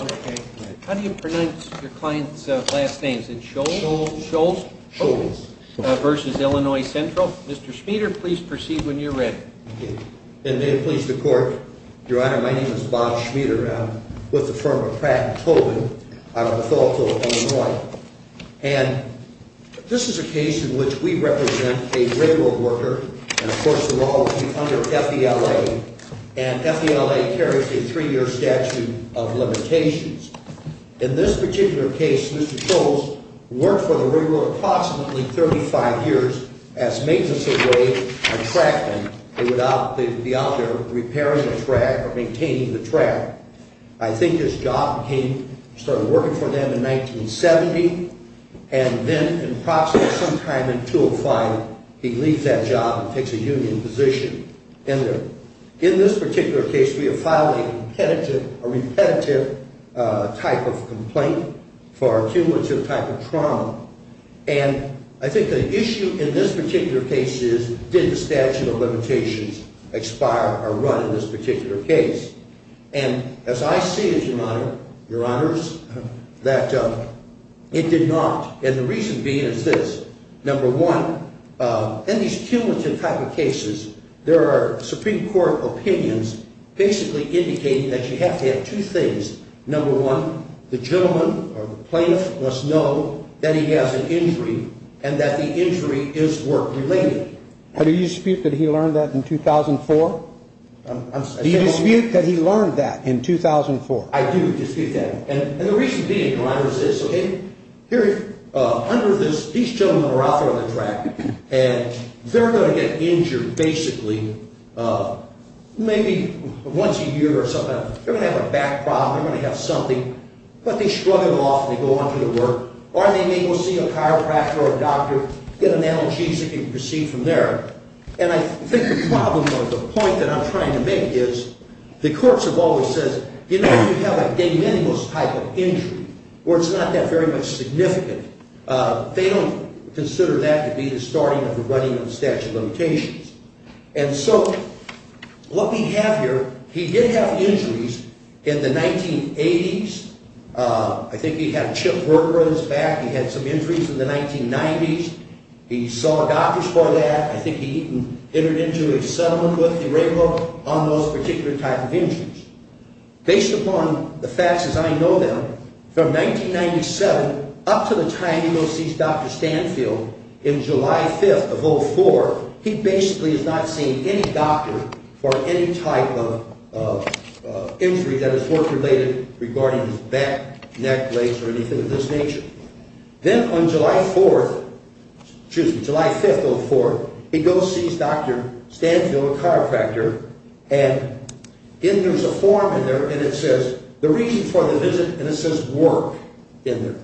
Okay. How do you pronounce your client's last name? Is it Scholes? Scholes. Scholes? Scholes. v. Illinois Central. Mr. Schmieder, please proceed when you're ready. Okay. And may it please the Court, Your Honor, my name is Bob Schmieder with the firm of Pratt & Tobin out of Bethel, Illinois. And this is a case in which we represent a railroad worker, and of course the law would be under F.E.L.A. And F.E.L.A. carries a three-year statute of limitations. In this particular case, Mr. Scholes worked for the railroad approximately 35 years as maintenance of a trackman. They would be out there repairing the track or maintaining the track. I think his job came, started working for them in 1970, and then approximately sometime in 2005, he leaves that job and takes a union position in there. In this particular case, we have filed a repetitive type of complaint for a cumulative type of trauma. And I think the issue in this particular case is, did the statute of limitations expire or run in this particular case? And as I see it, Your Honor, Your Honors, that it did not. And the reason being is this. Number one, in these cumulative type of cases, there are Supreme Court opinions basically indicating that you have to have two things. Number one, the gentleman or the plaintiff must know that he has an injury and that the injury is work-related. Do you dispute that he learned that in 2004? Do you dispute that he learned that in 2004? I do dispute that. And the reason being, Your Honor, is this. Under this, these gentlemen are out there on the track, and they're going to get injured basically maybe once a year or something. They're going to have a back problem. They're going to have something. But they shrug it off, and they go on to the work. Or they may go see a chiropractor or a doctor, get an analgesic, and proceed from there. And I think the problem or the point that I'm trying to make is the courts have always said, you know, you have a de minimis type of injury where it's not that very much significant. They don't consider that to be the starting of the running of the statute of limitations. And so what we have here, he did have injuries in the 1980s. I think he had a chip work-related back. He had some injuries in the 1990s. He saw a doctor for that. I think he even entered into a settlement with the railroad on those particular type of injuries. Based upon the facts as I know them, from 1997 up to the time he goes to see Dr. Stanfield in July 5th of 04, he basically has not seen any doctor for any type of injury that is work-related regarding his back, neck, legs, or anything of this nature. Then on July 4th, excuse me, July 5th of 04, he goes and sees Dr. Stanfield, a chiropractor. And there's a form in there, and it says the reason for the visit, and it says work in there.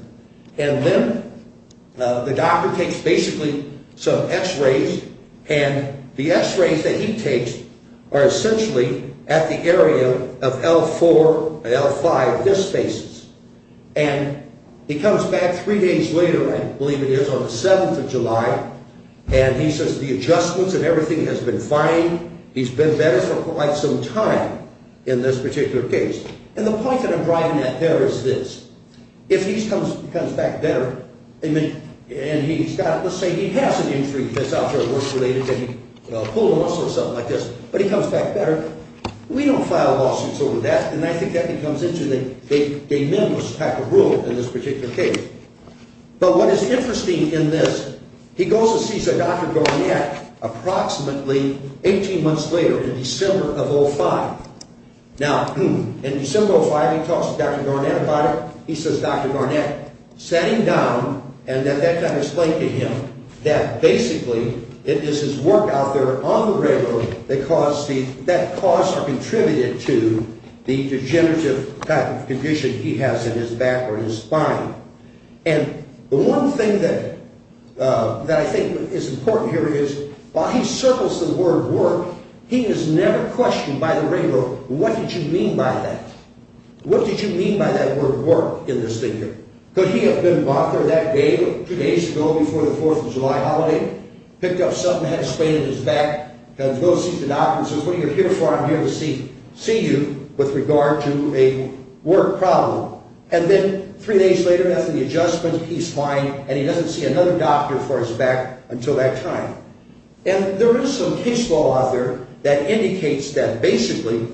And then the doctor takes basically some x-rays, and the x-rays that he takes are essentially at the area of L4 and L5 disc spaces. And he comes back three days later, I believe it is, on the 7th of July, and he says the adjustments and everything has been fine. He's been better for quite some time in this particular case. And the point that I'm driving at there is this. If he comes back better, and he's got, let's say he has an injury that's out there work-related, and he pulled a muscle or something like this, but he comes back better, we don't file lawsuits over that. And I think that becomes into a minimalist type of rule in this particular case. But what is interesting in this, he goes and sees a Dr. Garnett approximately 18 months later in December of 05. Now, in December of 05, he talks to Dr. Garnett about it. He says Dr. Garnett sat him down, and at that time explained to him that basically it is his work out there on the railroad that caused or contributed to the degenerative type of condition he has in his back or in his spine. And the one thing that I think is important here is while he circles the word work, he is never questioned by the railroad, what did you mean by that? What did you mean by that word work in this thing here? Could he have been mocked or that day, two days ago before the 4th of July holiday, picked up something, had a sprain in his back, goes to see the doctor and says what are you here for? I'm here to see you with regard to a work problem. And then three days later after the adjustment, he's fine, and he doesn't see another doctor for his back until that time. And there is some case law out there that indicates that basically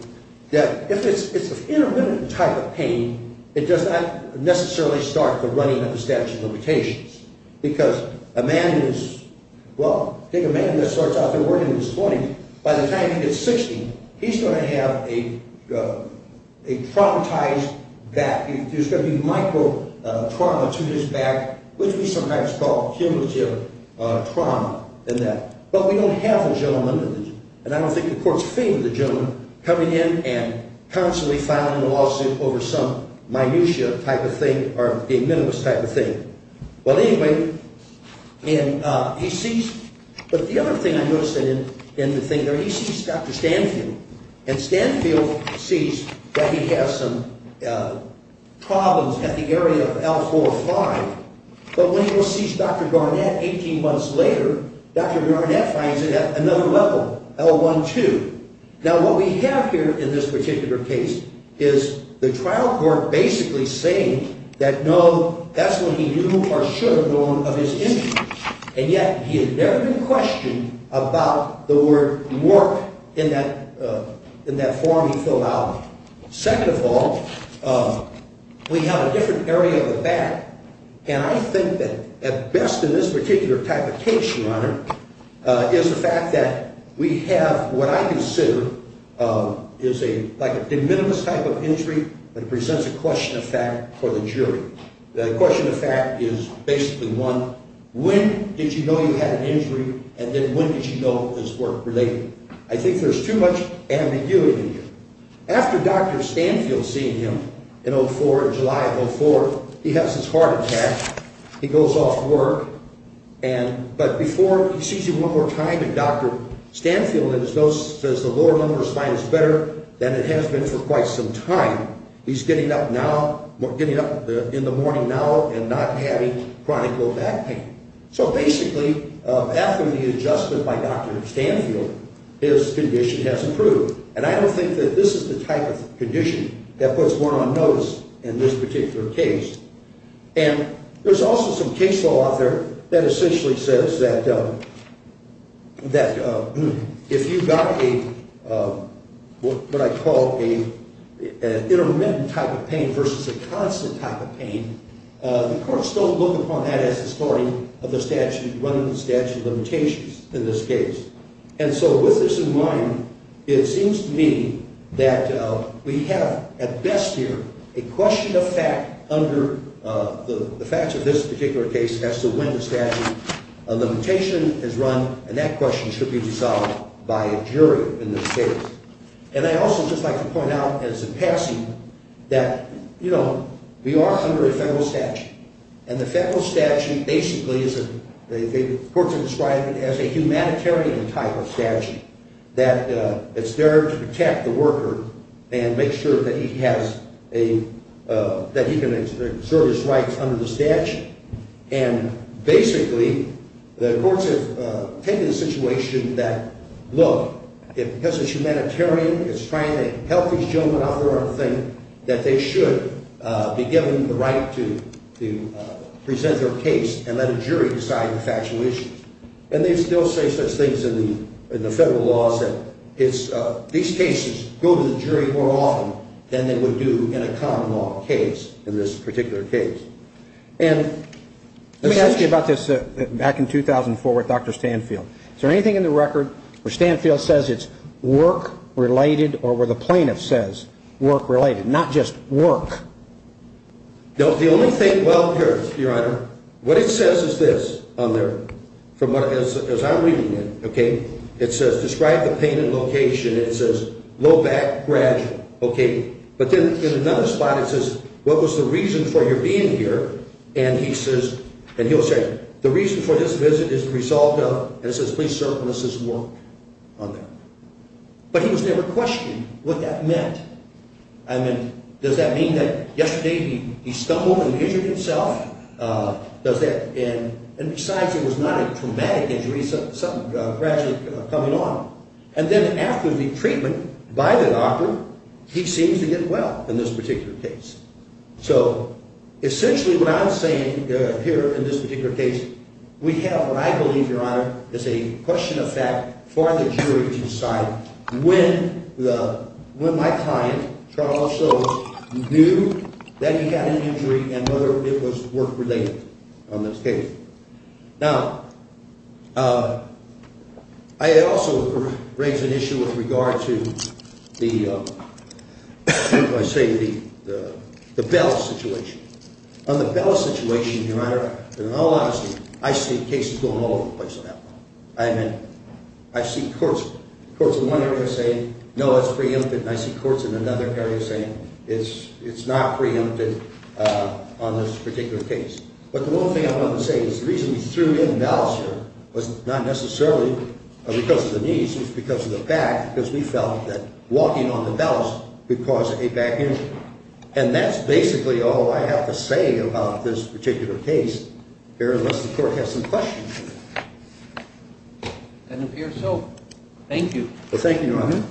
that if it's an intermittent type of pain, it does not necessarily start the running of the statute of limitations. Because a man who is, well, take a man that starts out there working at this point, by the time he gets 60, he's going to have a traumatized back. There's going to be micro trauma to his back, which we sometimes call cumulative trauma in that. But we don't have a gentleman, and I don't think the court's favored the gentleman, coming in and constantly filing a lawsuit over some minutiae type of thing or a minimalist type of thing. Well, anyway, he sees, but the other thing I noticed in the thing there, he sees Dr. Stanfield. And Stanfield sees that he has some problems at the area of L4-5. But when he sees Dr. Garnett 18 months later, Dr. Garnett finds it at another level, L1-2. Now, what we have here in this particular case is the trial court basically saying that, no, that's what he knew or should have known of his injuries. And yet he had never been questioned about the word work in that form he filled out. Second of all, we have a different area of the back. And I think that at best in this particular type of case, Your Honor, is the fact that we have what I consider is like a de minimis type of injury that presents a question of fact for the jury. The question of fact is basically one, when did you know you had an injury? And then when did you know it was work-related? I think there's too much ambiguity here. After Dr. Stanfield seeing him in L4, July of L4, he has his heart attack. He goes off to work. But before he sees him one more time, Dr. Stanfield in his notes says the lower lumbar spine is better than it has been for quite some time. He's getting up now, getting up in the morning now and not having chronic low back pain. So basically, after the adjustment by Dr. Stanfield, his condition has improved. And I don't think that this is the type of condition that puts one on notice in this particular case. And there's also some case law out there that essentially says that if you've got what I call an intermittent type of pain versus a constant type of pain, the courts don't look upon that as the starting of the statute running the statute of limitations in this case. And so with this in mind, it seems to me that we have at best here a question of fact under the facts of this particular case as to when the statute of limitation is run. And that question should be resolved by a jury in this case. And I also would just like to point out as a passing that, you know, we are under a federal statute. And the federal statute basically is a – the courts have described it as a humanitarian type of statute, that it's there to protect the worker and make sure that he has a – that he can exert his rights under the statute. And basically, the courts have taken the situation that, look, if this is humanitarian, it's trying to help these gentlemen out there think that they should be given the right to present their case and let a jury decide the factual issues. And they still say such things in the federal laws that it's – these cases go to the jury more often than they would do in a common law case in this particular case. And let me ask you about this back in 2004 with Dr. Stanfield. Is there anything in the record where Stanfield says it's work-related or where the plaintiff says work-related, not just work? No, the only thing – well, here, Your Honor, what it says is this on there from what – as I'm reading it, okay? It says, describe the pain and location. It says, low back, gradual, okay? But then in another spot it says, what was the reason for your being here? And he says – and he'll say, the reason for this visit is the result of – and it says, please certain this is work on there. But he was never questioned what that meant. I mean, does that mean that yesterday he stumbled and injured himself? Does that – and besides, it was not a traumatic injury. It's something gradually coming on. And then after the treatment by the doctor, he seems to get well in this particular case. So essentially what I'm saying here in this particular case, we have what I believe, Your Honor, is a question of fact for the jury to decide when my client, Charles Silver, knew that he had an injury and whether it was work-related on this case. Now, I also raise an issue with regard to the – what do I say – the Bell situation. On the Bell situation, Your Honor, in all honesty, I see cases going all over the place on that one. I mean, I see courts in one area saying, no, it's preempted, and I see courts in another area saying it's not preempted on this particular case. But the one thing I wanted to say is the reason we threw in Bells here was not necessarily because of the knees. It was because of the back, because we felt that walking on the Bells would cause a back injury. And that's basically all I have to say about this particular case here unless the court has some questions. It appears so. Thank you. Well, thank you, Your Honor.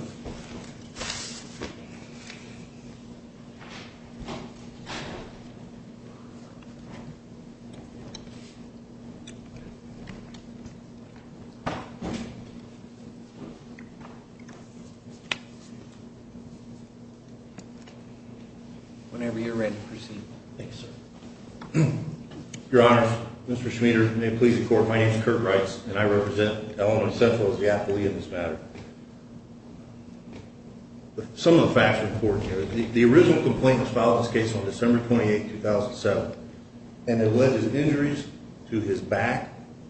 Whenever you're ready, proceed. Thank you, sir. Your Honor, Mr. Schmieder, may it please the Court, my name is Kurt Reitz, and I represent Illinois Central as the affiliate in this matter. Some of the facts are important here. The original complaint was filed in this case on December 28, 2007. And it was filed on December 28, 2007. And he alleges injuries to his back,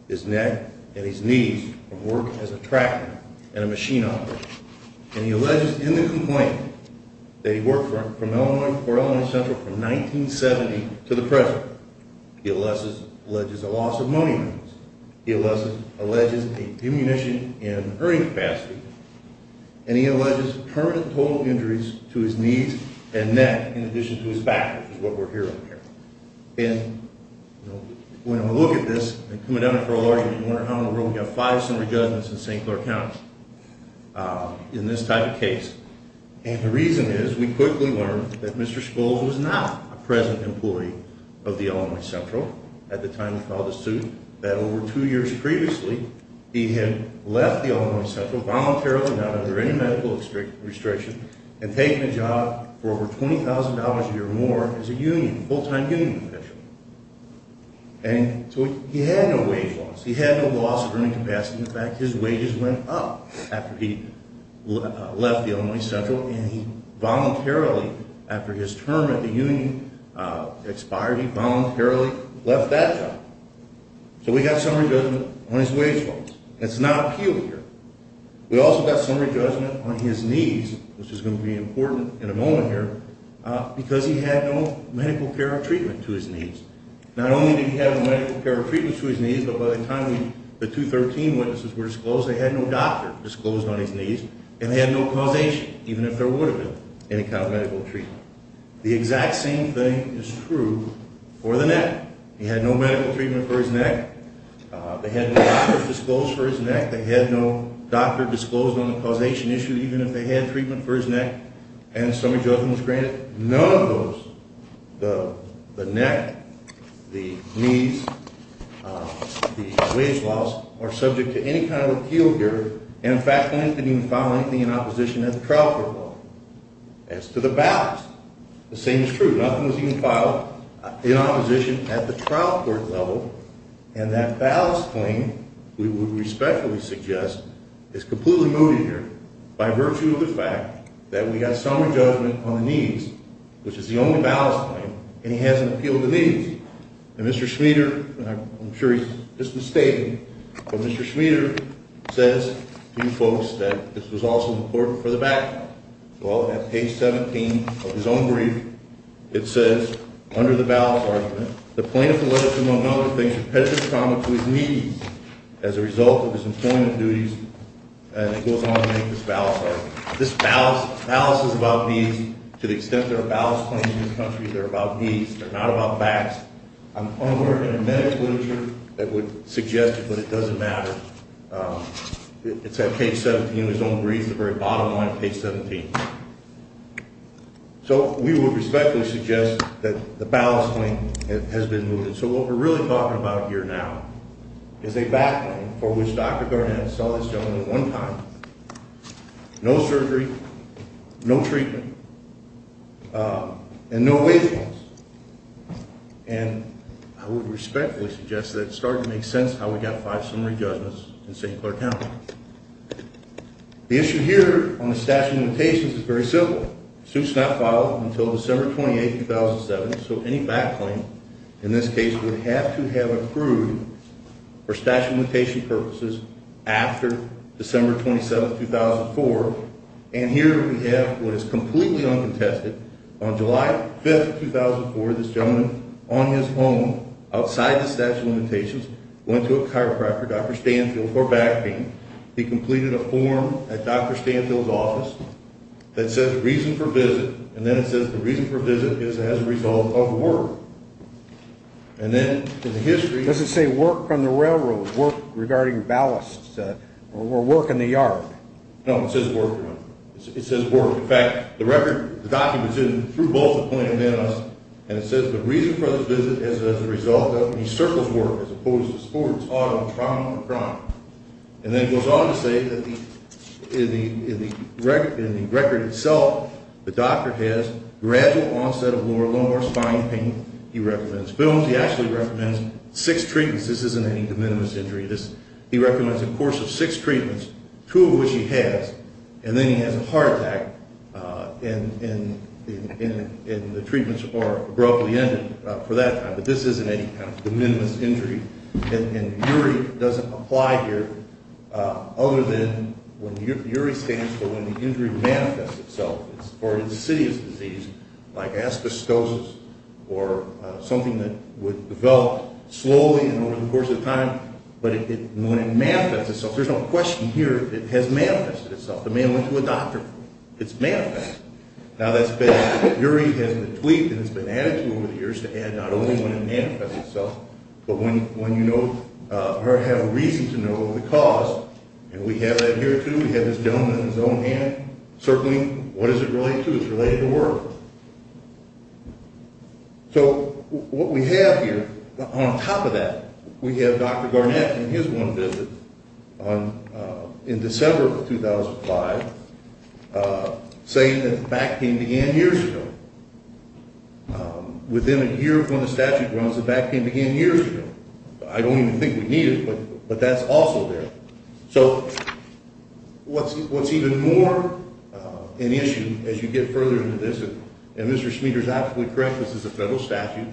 his neck, and his knees from work as a tractor and a machine operator. And he alleges in the complaint that he worked for Illinois Central from 1970 to the present. He alleges a loss of money. He alleges a diminution in earning capacity. And he alleges permanent total injuries to his knees and neck in addition to his back, which is what we're hearing here. And, you know, when I look at this, I'm coming down here for a lawyer, and you wonder how in the world we have five summary judgments in St. Clair County in this type of case. And the reason is we quickly learned that Mr. Schmieder was not a present employee of the Illinois Central at the time he filed the suit. That over two years previously, he had left the Illinois Central voluntarily, not under any medical restriction, and taken a job for over $20,000 a year more as a union, full-time union official. And so he had no wage loss. He had no loss of earning capacity. In fact, his wages went up after he left the Illinois Central, and he voluntarily, after his term at the union expired, he voluntarily left that job. So we got summary judgment on his wage loss. It's not appealed here. We also got summary judgment on his knees, which is going to be important in a moment here, because he had no medical care or treatment to his knees. Not only did he have no medical care or treatment to his knees, but by the time the 213 witnesses were disclosed, they had no doctor disclosed on his knees, and they had no causation, even if there would have been any kind of medical treatment. The exact same thing is true for the neck. He had no medical treatment for his neck. They had no doctor disclosed for his neck. They had no doctor disclosed on the causation issue, even if they had treatment for his neck, and summary judgment was granted. None of those, the neck, the knees, the wage loss, are subject to any kind of appeal here. And, in fact, they didn't even file anything in opposition at the trial court level. As to the ballast, the same is true. Nothing was even filed in opposition at the trial court level. And that ballast claim, we would respectfully suggest, is completely mooted here by virtue of the fact that we got summary judgment on the knees, which is the only ballast claim, and he hasn't appealed the knees. And Mr. Schmieder, and I'm sure he's just mistaken, but Mr. Schmieder says to you folks that this was also important for the background. Well, at page 17 of his own brief, it says, under the ballast argument, the plaintiff alleged, among other things, repetitive trauma to his knees as a result of his employment duties, and it goes on to make this ballast argument. This ballast is about knees. To the extent there are ballast claims in this country, they're about knees. They're not about backs. I'm unaware of any medical literature that would suggest it, but it doesn't matter. It's at page 17 of his own brief, the very bottom line of page 17. So we would respectfully suggest that the ballast claim has been mooted. So what we're really talking about here now is a back claim for which Dr. Garnett saw this gentleman one time. No surgery, no treatment, and no wage claims. And I would respectfully suggest that it's starting to make sense how we got five summary judgments in St. Clair County. The issue here on the statute of limitations is very simple. The suit's not filed until December 28, 2007, so any back claim in this case would have to have approved for statute of limitation purposes after December 27, 2004, and here we have what is completely uncontested. On July 5, 2004, this gentleman on his home outside the statute of limitations went to a chiropractor, Dr. Stanfield, for back pain. He completed a form at Dr. Stanfield's office that says reason for visit, and then it says the reason for visit is as a result of work. And then in the history— Does it say work on the railroad, work regarding ballasts, or work in the yard? No, it says work. It says work. In fact, the record documents it through both the plaintiff and us, and it says the reason for the visit is as a result of— and he circles work as opposed to sports, auto, trauma, or crime. And then it goes on to say that in the record itself, the doctor has gradual onset of lower lumbar spine pain. He recommends films. He actually recommends six treatments. This isn't any de minimis injury. He recommends a course of six treatments, two of which he has, and then he has a heart attack, and the treatments are abruptly ended for that time. But this isn't any kind of de minimis injury, and URI doesn't apply here other than when URI stands for when the injury manifests itself. It's for an insidious disease like asbestosis or something that would develop slowly and over the course of time, but when it manifests itself, there's no question here that it has manifested itself. The man went to a doctor. It's manifested. Now, that's been—URI has been tweaked, and it's been added to over the years to add not only when it manifests itself, but when you know or have reason to know the cause, and we have that here, too. We have this gentleman in his own hand circling what is it related to. It's related to work. So what we have here, on top of that, we have Dr. Garnett in his one visit in December of 2005 saying that back pain began years ago. Within a year of when the statute runs, the back pain began years ago. I don't even think we need it, but that's also there. So what's even more an issue as you get further into this, and Mr. Schmieder is absolutely correct, this is a federal statute.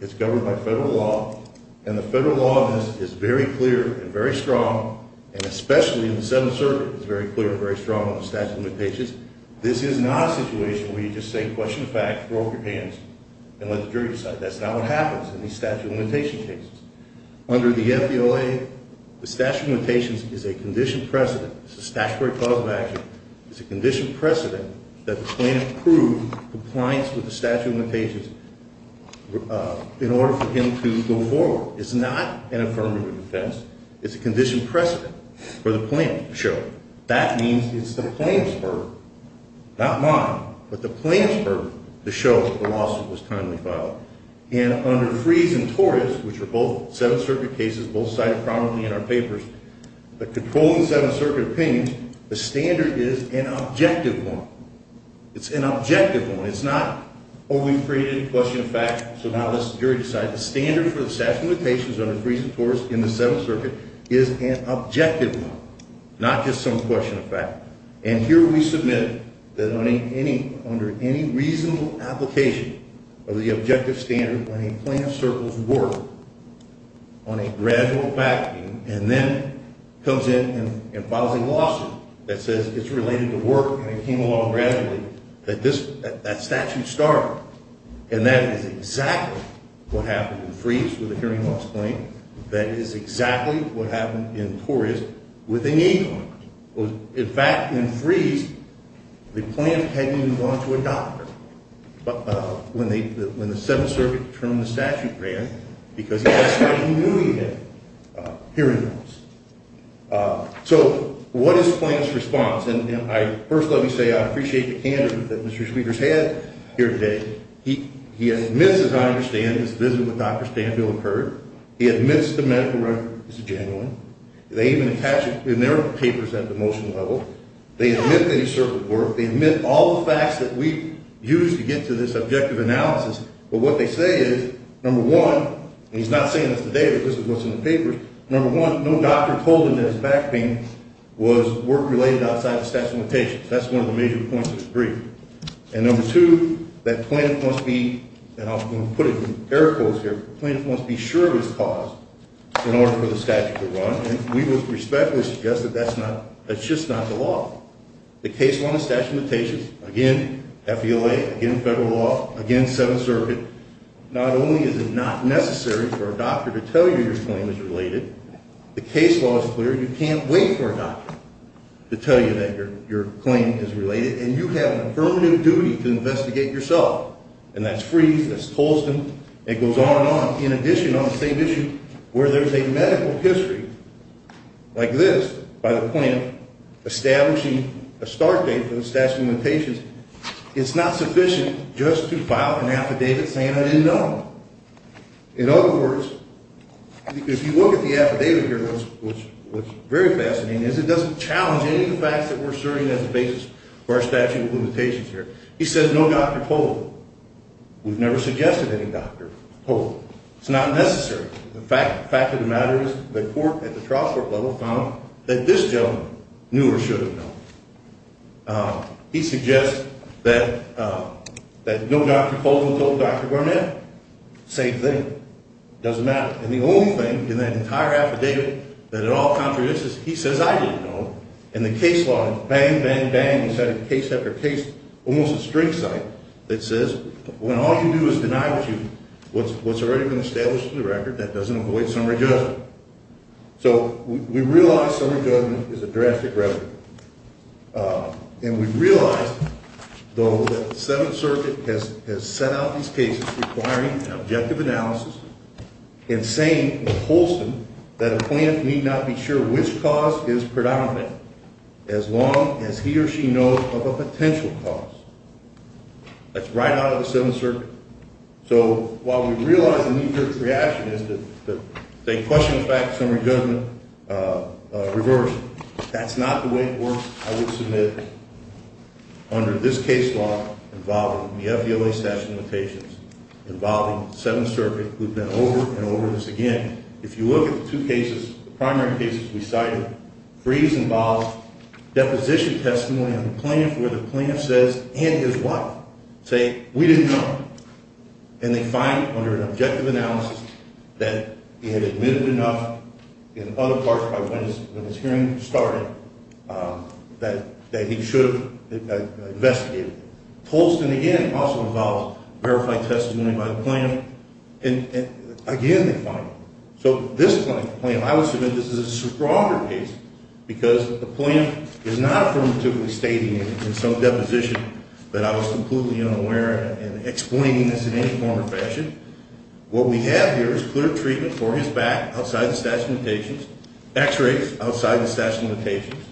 It's governed by federal law, and the federal law on this is very clear and very strong, and especially in the Seventh Circuit, it's very clear and very strong on the statute of limitations. This is not a situation where you just say question of fact, throw up your hands, and let the jury decide. That's not what happens in these statute of limitation cases. Under the FBOA, the statute of limitations is a condition precedent. It's a statutory clause of action. It's a condition precedent that the plaintiff prove compliance with the statute of limitations in order for him to go forward. It's not an affirmative defense. It's a condition precedent for the plaintiff to show. That means it's the plaintiff's burden, not mine, but the plaintiff's burden to show that the lawsuit was timely filed. And under Fries and Torres, which are both Seventh Circuit cases, both cited prominently in our papers, the controlling Seventh Circuit opinion, the standard is an objective one. It's an objective one. It's not, oh, we've created a question of fact, so now let's the jury decide. The standard for the statute of limitations under Fries and Torres in the Seventh Circuit is an objective one, not just some question of fact. And here we submit that under any reasonable application of the objective standard when a plaintiff circles work on a gradual fact meeting and then comes in and files a lawsuit that says it's related to work and it came along gradually, that that statute started. And that is exactly what happened in Fries with a hearing loss claim. That is exactly what happened in Torres with an acorn. In fact, in Fries, the plaintiff hadn't even gone to a doctor when the Seventh Circuit termed the statute grant because that's how he knew he had hearing loss. So what is the plaintiff's response? And first let me say I appreciate the candor that Mr. Speakers had here today. He admits, as I understand, his visit with Dr. Stanfield occurred. He admits the medical record is genuine. They even attach it in their papers at the motion level. They admit that he circled work. They admit all the facts that we've used to get to this objective analysis. But what they say is, number one, and he's not saying this today but this is what's in the papers, number one, no doctor told him that his fact meeting was work related outside the statute of limitations. That's one of the major points of his brief. And number two, that plaintiff must be, and I'll put it in air quotes here, the plaintiff must be sure of his cause in order for the statute to run, and we would respectfully suggest that that's just not the law. The case law and the statute of limitations, again, FELA, again, federal law, again, Seventh Circuit, not only is it not necessary for a doctor to tell you your claim is related, the case law is clear, you can't wait for a doctor to tell you that your claim is related and you have a permanent duty to investigate yourself. And that's Freeze, that's Tolston, it goes on and on. In addition, on the same issue, where there's a medical history like this by the plaintiff establishing a start date for the statute of limitations, it's not sufficient just to file an affidavit saying I didn't know. In other words, if you look at the affidavit here, which is very fascinating, it doesn't challenge any of the facts that we're asserting as the basis for our statute of limitations here. He says no doctor told him. We've never suggested any doctor told him. It's not necessary. The fact of the matter is the court at the trial court level found that this gentleman knew or should have known. He suggests that no doctor told him, told Dr. Gourmet. Same thing. Doesn't matter. And the only thing in that entire affidavit that at all contradicts this, he says I didn't know. And the case law is bang, bang, bang. He's had case after case, almost a string site, that says when all you do is deny what's already been established in the record, that doesn't avoid summary judgment. So we realize summary judgment is a drastic remedy. And we realize, though, that the Seventh Circuit has set out these cases requiring an objective analysis and saying wholesome that a plaintiff need not be sure which cause is predominant as long as he or she knows of a potential cause. That's right out of the Seventh Circuit. So while we realize the knee-jerk reaction is that they question the fact of summary judgment reversion, that's not the way it works, I would submit, under this case law involving the FELA statute of limitations, involving the Seventh Circuit, we've been over and over this again. If you look at the two cases, the primary cases we cited, freeze involves deposition testimony on the plaintiff where the plaintiff says and his wife say we didn't know. And they find under an objective analysis that he had admitted enough in other parts of his hearing started that he should have investigated. Tolston, again, also involves verified testimony by the plaintiff. And, again, they find. So this plaintiff, I would submit this is a stronger case because the plaintiff is not affirmatively stating in some deposition that I was completely unaware and explaining this in any form or fashion. What we have here is clear treatment for his back outside the statute of limitations, x-rays outside the statute of limitations,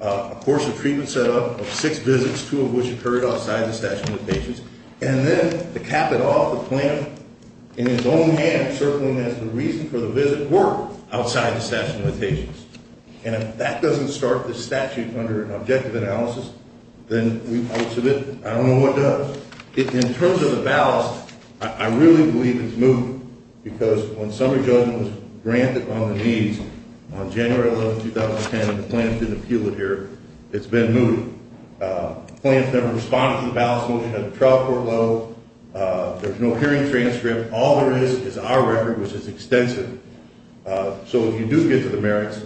a course of treatment set up of six visits, two of which occurred outside the statute of limitations. And then to cap it off, the plaintiff, in his own hand, circling as the reason for the visit were outside the statute of limitations. And if that doesn't start the statute under an objective analysis, then I would submit I don't know what does. In terms of the ballast, I really believe it's moved because when summary judgment was granted on the knees on January 11, 2010, the plaintiff didn't appeal it here. It's been moved. The plaintiff never responded to the ballast motion at the trial court level. There's no hearing transcript. All there is is our record, which is extensive. So if you do get to the merits,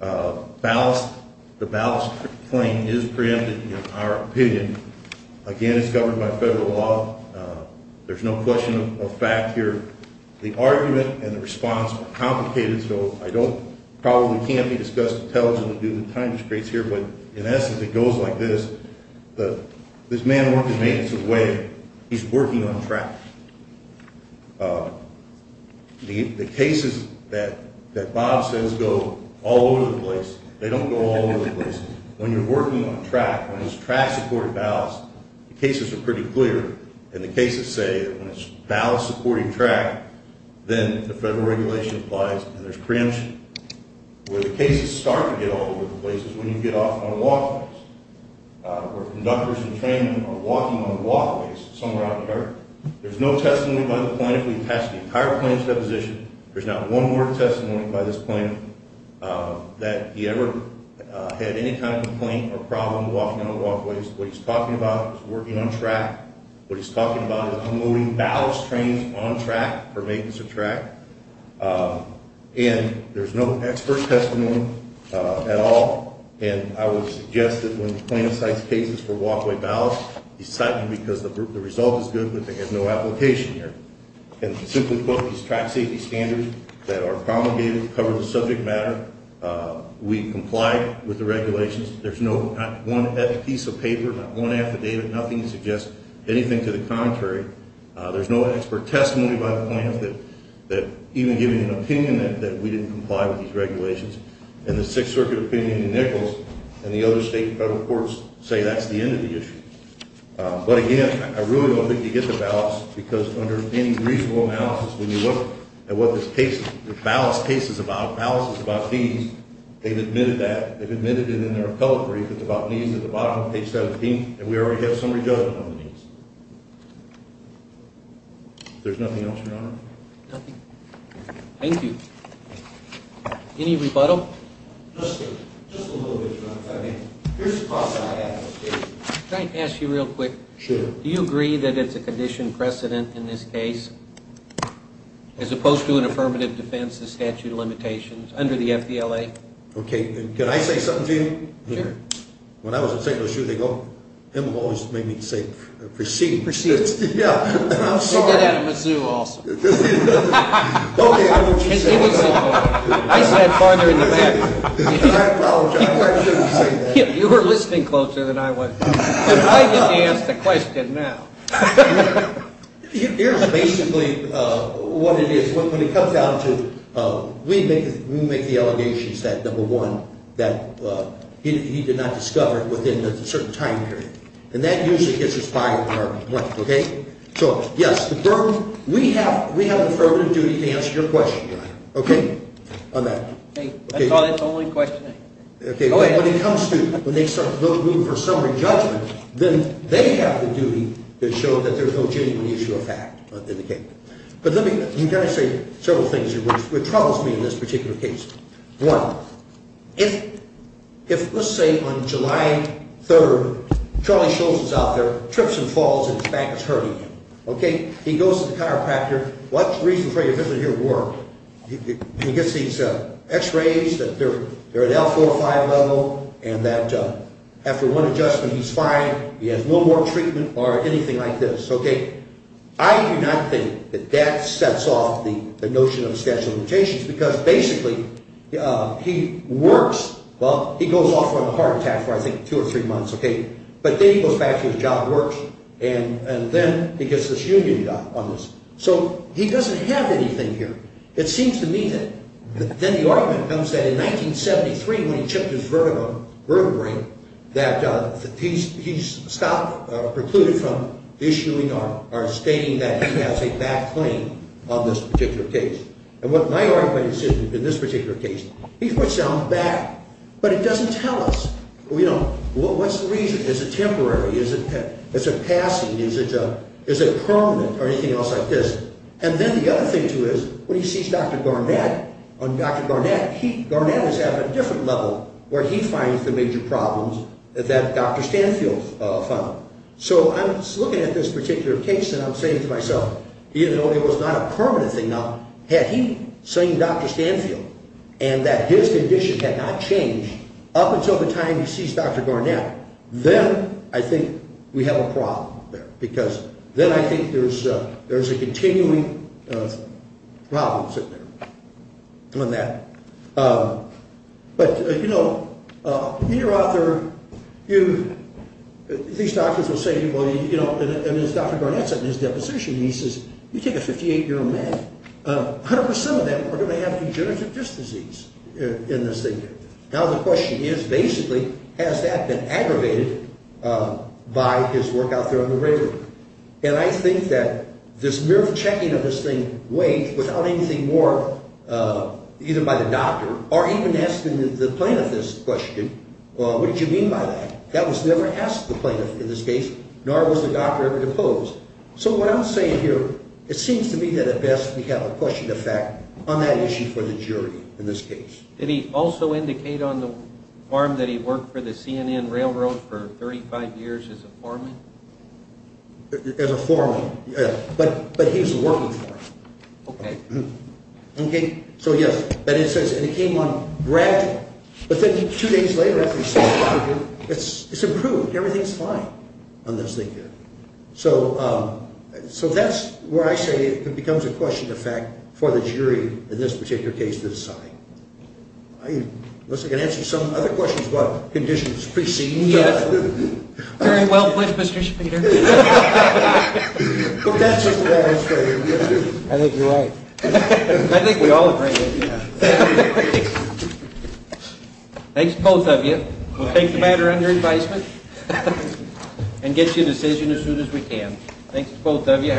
the ballast claim is preempted in our opinion. Again, it's governed by federal law. There's no question of fact here. The argument and the response are complicated, so I don't probably can't be discussed intelligently due to time constraints here. But in essence, it goes like this. This man worked in maintenance of the way. He's working on track. The cases that Bob says go all over the place, they don't go all over the place. When you're working on track, when it's track-supported ballast, the cases are pretty clear. And the cases say when it's ballast-supported track, then the federal regulation applies and there's preemption. Where the cases start to get all over the place is when you get off on walkways, where conductors and training are walking on walkways somewhere out here. There's no testimony by the plaintiff. We attached the entire plaintiff's deposition. There's not one word of testimony by this plaintiff that he ever had any kind of complaint or problem walking on walkways. What he's talking about is working on track. What he's talking about is unloading ballast trains on track for maintenance of track. And there's no expert testimony at all. And I would suggest that when the plaintiff cites cases for walkway ballast, he's citing them because the result is good, but there's no application here. And to simply quote these track safety standards that are promulgated to cover the subject matter, we complied with the regulations. There's not one piece of paper, not one affidavit, nothing to suggest anything to the contrary. There's no expert testimony by the plaintiff that even giving an opinion that we didn't comply with these regulations. And the Sixth Circuit opinion in Nichols and the other state and federal courts say that's the end of the issue. But, again, I really don't think you get the ballast because under any reasonable analysis, when you look at what this ballast case is about, ballast is about these. They've admitted that. They've admitted it in their appellate brief. It's about these at the bottom, page 17, and we already have some results on these. If there's nothing else, Your Honor. Nothing? Thank you. Any rebuttal? Just a little bit, Your Honor. Here's the question I have. Can I ask you real quick? Sure. Do you agree that it's a condition precedent in this case, as opposed to an affirmative defense of statute of limitations under the FDLA? Okay. Can I say something to you? Sure. When I was at St. Louis Juvenile, him always made me say precedence. Precedence. Yeah. And I'm sorry. He did that at Mizzou also. Okay. I said farther in the back. I apologize. I shouldn't have said that. You were listening closer than I was. I get to ask the question now. Here's basically what it is. We make the allegations that, number one, that he did not discover it within a certain time period. And that usually gets us fired. Okay? So, yes, the burden. We have an affirmative duty to answer your question, Your Honor. Okay? On that. I thought it's only questioning. Okay. But when it comes to when they start looking for summary judgment, then they have the duty to show that there's no genuine issue of fact in the case. But let me kind of say several things which troubles me in this particular case. One, if, let's say, on July 3rd, Charlie Schultz is out there, trips and falls, and his back is hurting him. Okay? He goes to the chiropractor. What's the reason for your visit here at work? And he gets these x-rays that they're at L4-5 level, and that after one adjustment he's fine. He has no more treatment or anything like this. Okay? I do not think that that sets off the notion of special limitations because basically he works. Well, he goes off on a heart attack for, I think, two or three months. Okay? But then he goes back to his job at work, and then he gets this union done on this. So he doesn't have anything here. It seems to me that then the argument comes that in 1973 when he chipped his vertebrae that he's stopped or precluded from issuing or stating that he has a back claim on this particular case. And what my argument is in this particular case, he puts down the back, but it doesn't tell us, you know, what's the reason? Is it temporary? Is it passing? Is it permanent or anything else like this? And then the other thing, too, is when he sees Dr. Garnett, Garnett is at a different level where he finds the major problems that Dr. Stanfield found. So I'm looking at this particular case, and I'm saying to myself, even though it was not a permanent thing, now had he seen Dr. Stanfield and that his condition had not changed up until the time he sees Dr. Garnett, then I think we have a problem there because then I think there's a continuing problem sitting there on that. But, you know, you're out there, these doctors will say, and as Dr. Garnett said in his deposition, he says, you take a 58-year-old man, 100% of them are going to have degenerative disc disease in this thing. Now the question is, basically, has that been aggravated by his work out there on the radio? And I think that this mere checking of this thing, without anything more, either by the doctor or even asking the plaintiff this question, what did you mean by that? That was never asked of the plaintiff in this case, nor was the doctor ever deposed. So what I'm saying here, it seems to me that at best we have a question of fact on that issue for the jury in this case. Did he also indicate on the form that he worked for the CNN Railroad for 35 years as a foreman? As a foreman, yeah, but he was a working foreman. Okay. Okay, so yes. And it says, and it came on granted. But then two days later after he said that, it's improved. Everything's fine on this thing here. So that's where I say it becomes a question of fact for the jury in this particular case to decide. Unless I can answer some other questions about conditions preceding that. Very well put, Mr. Schmieder. But that's his demonstration. I think you're right. I think we all agree with you. Thanks, both of you. We'll take the matter under advisement and get you a decision as soon as we can. Thanks to both of you.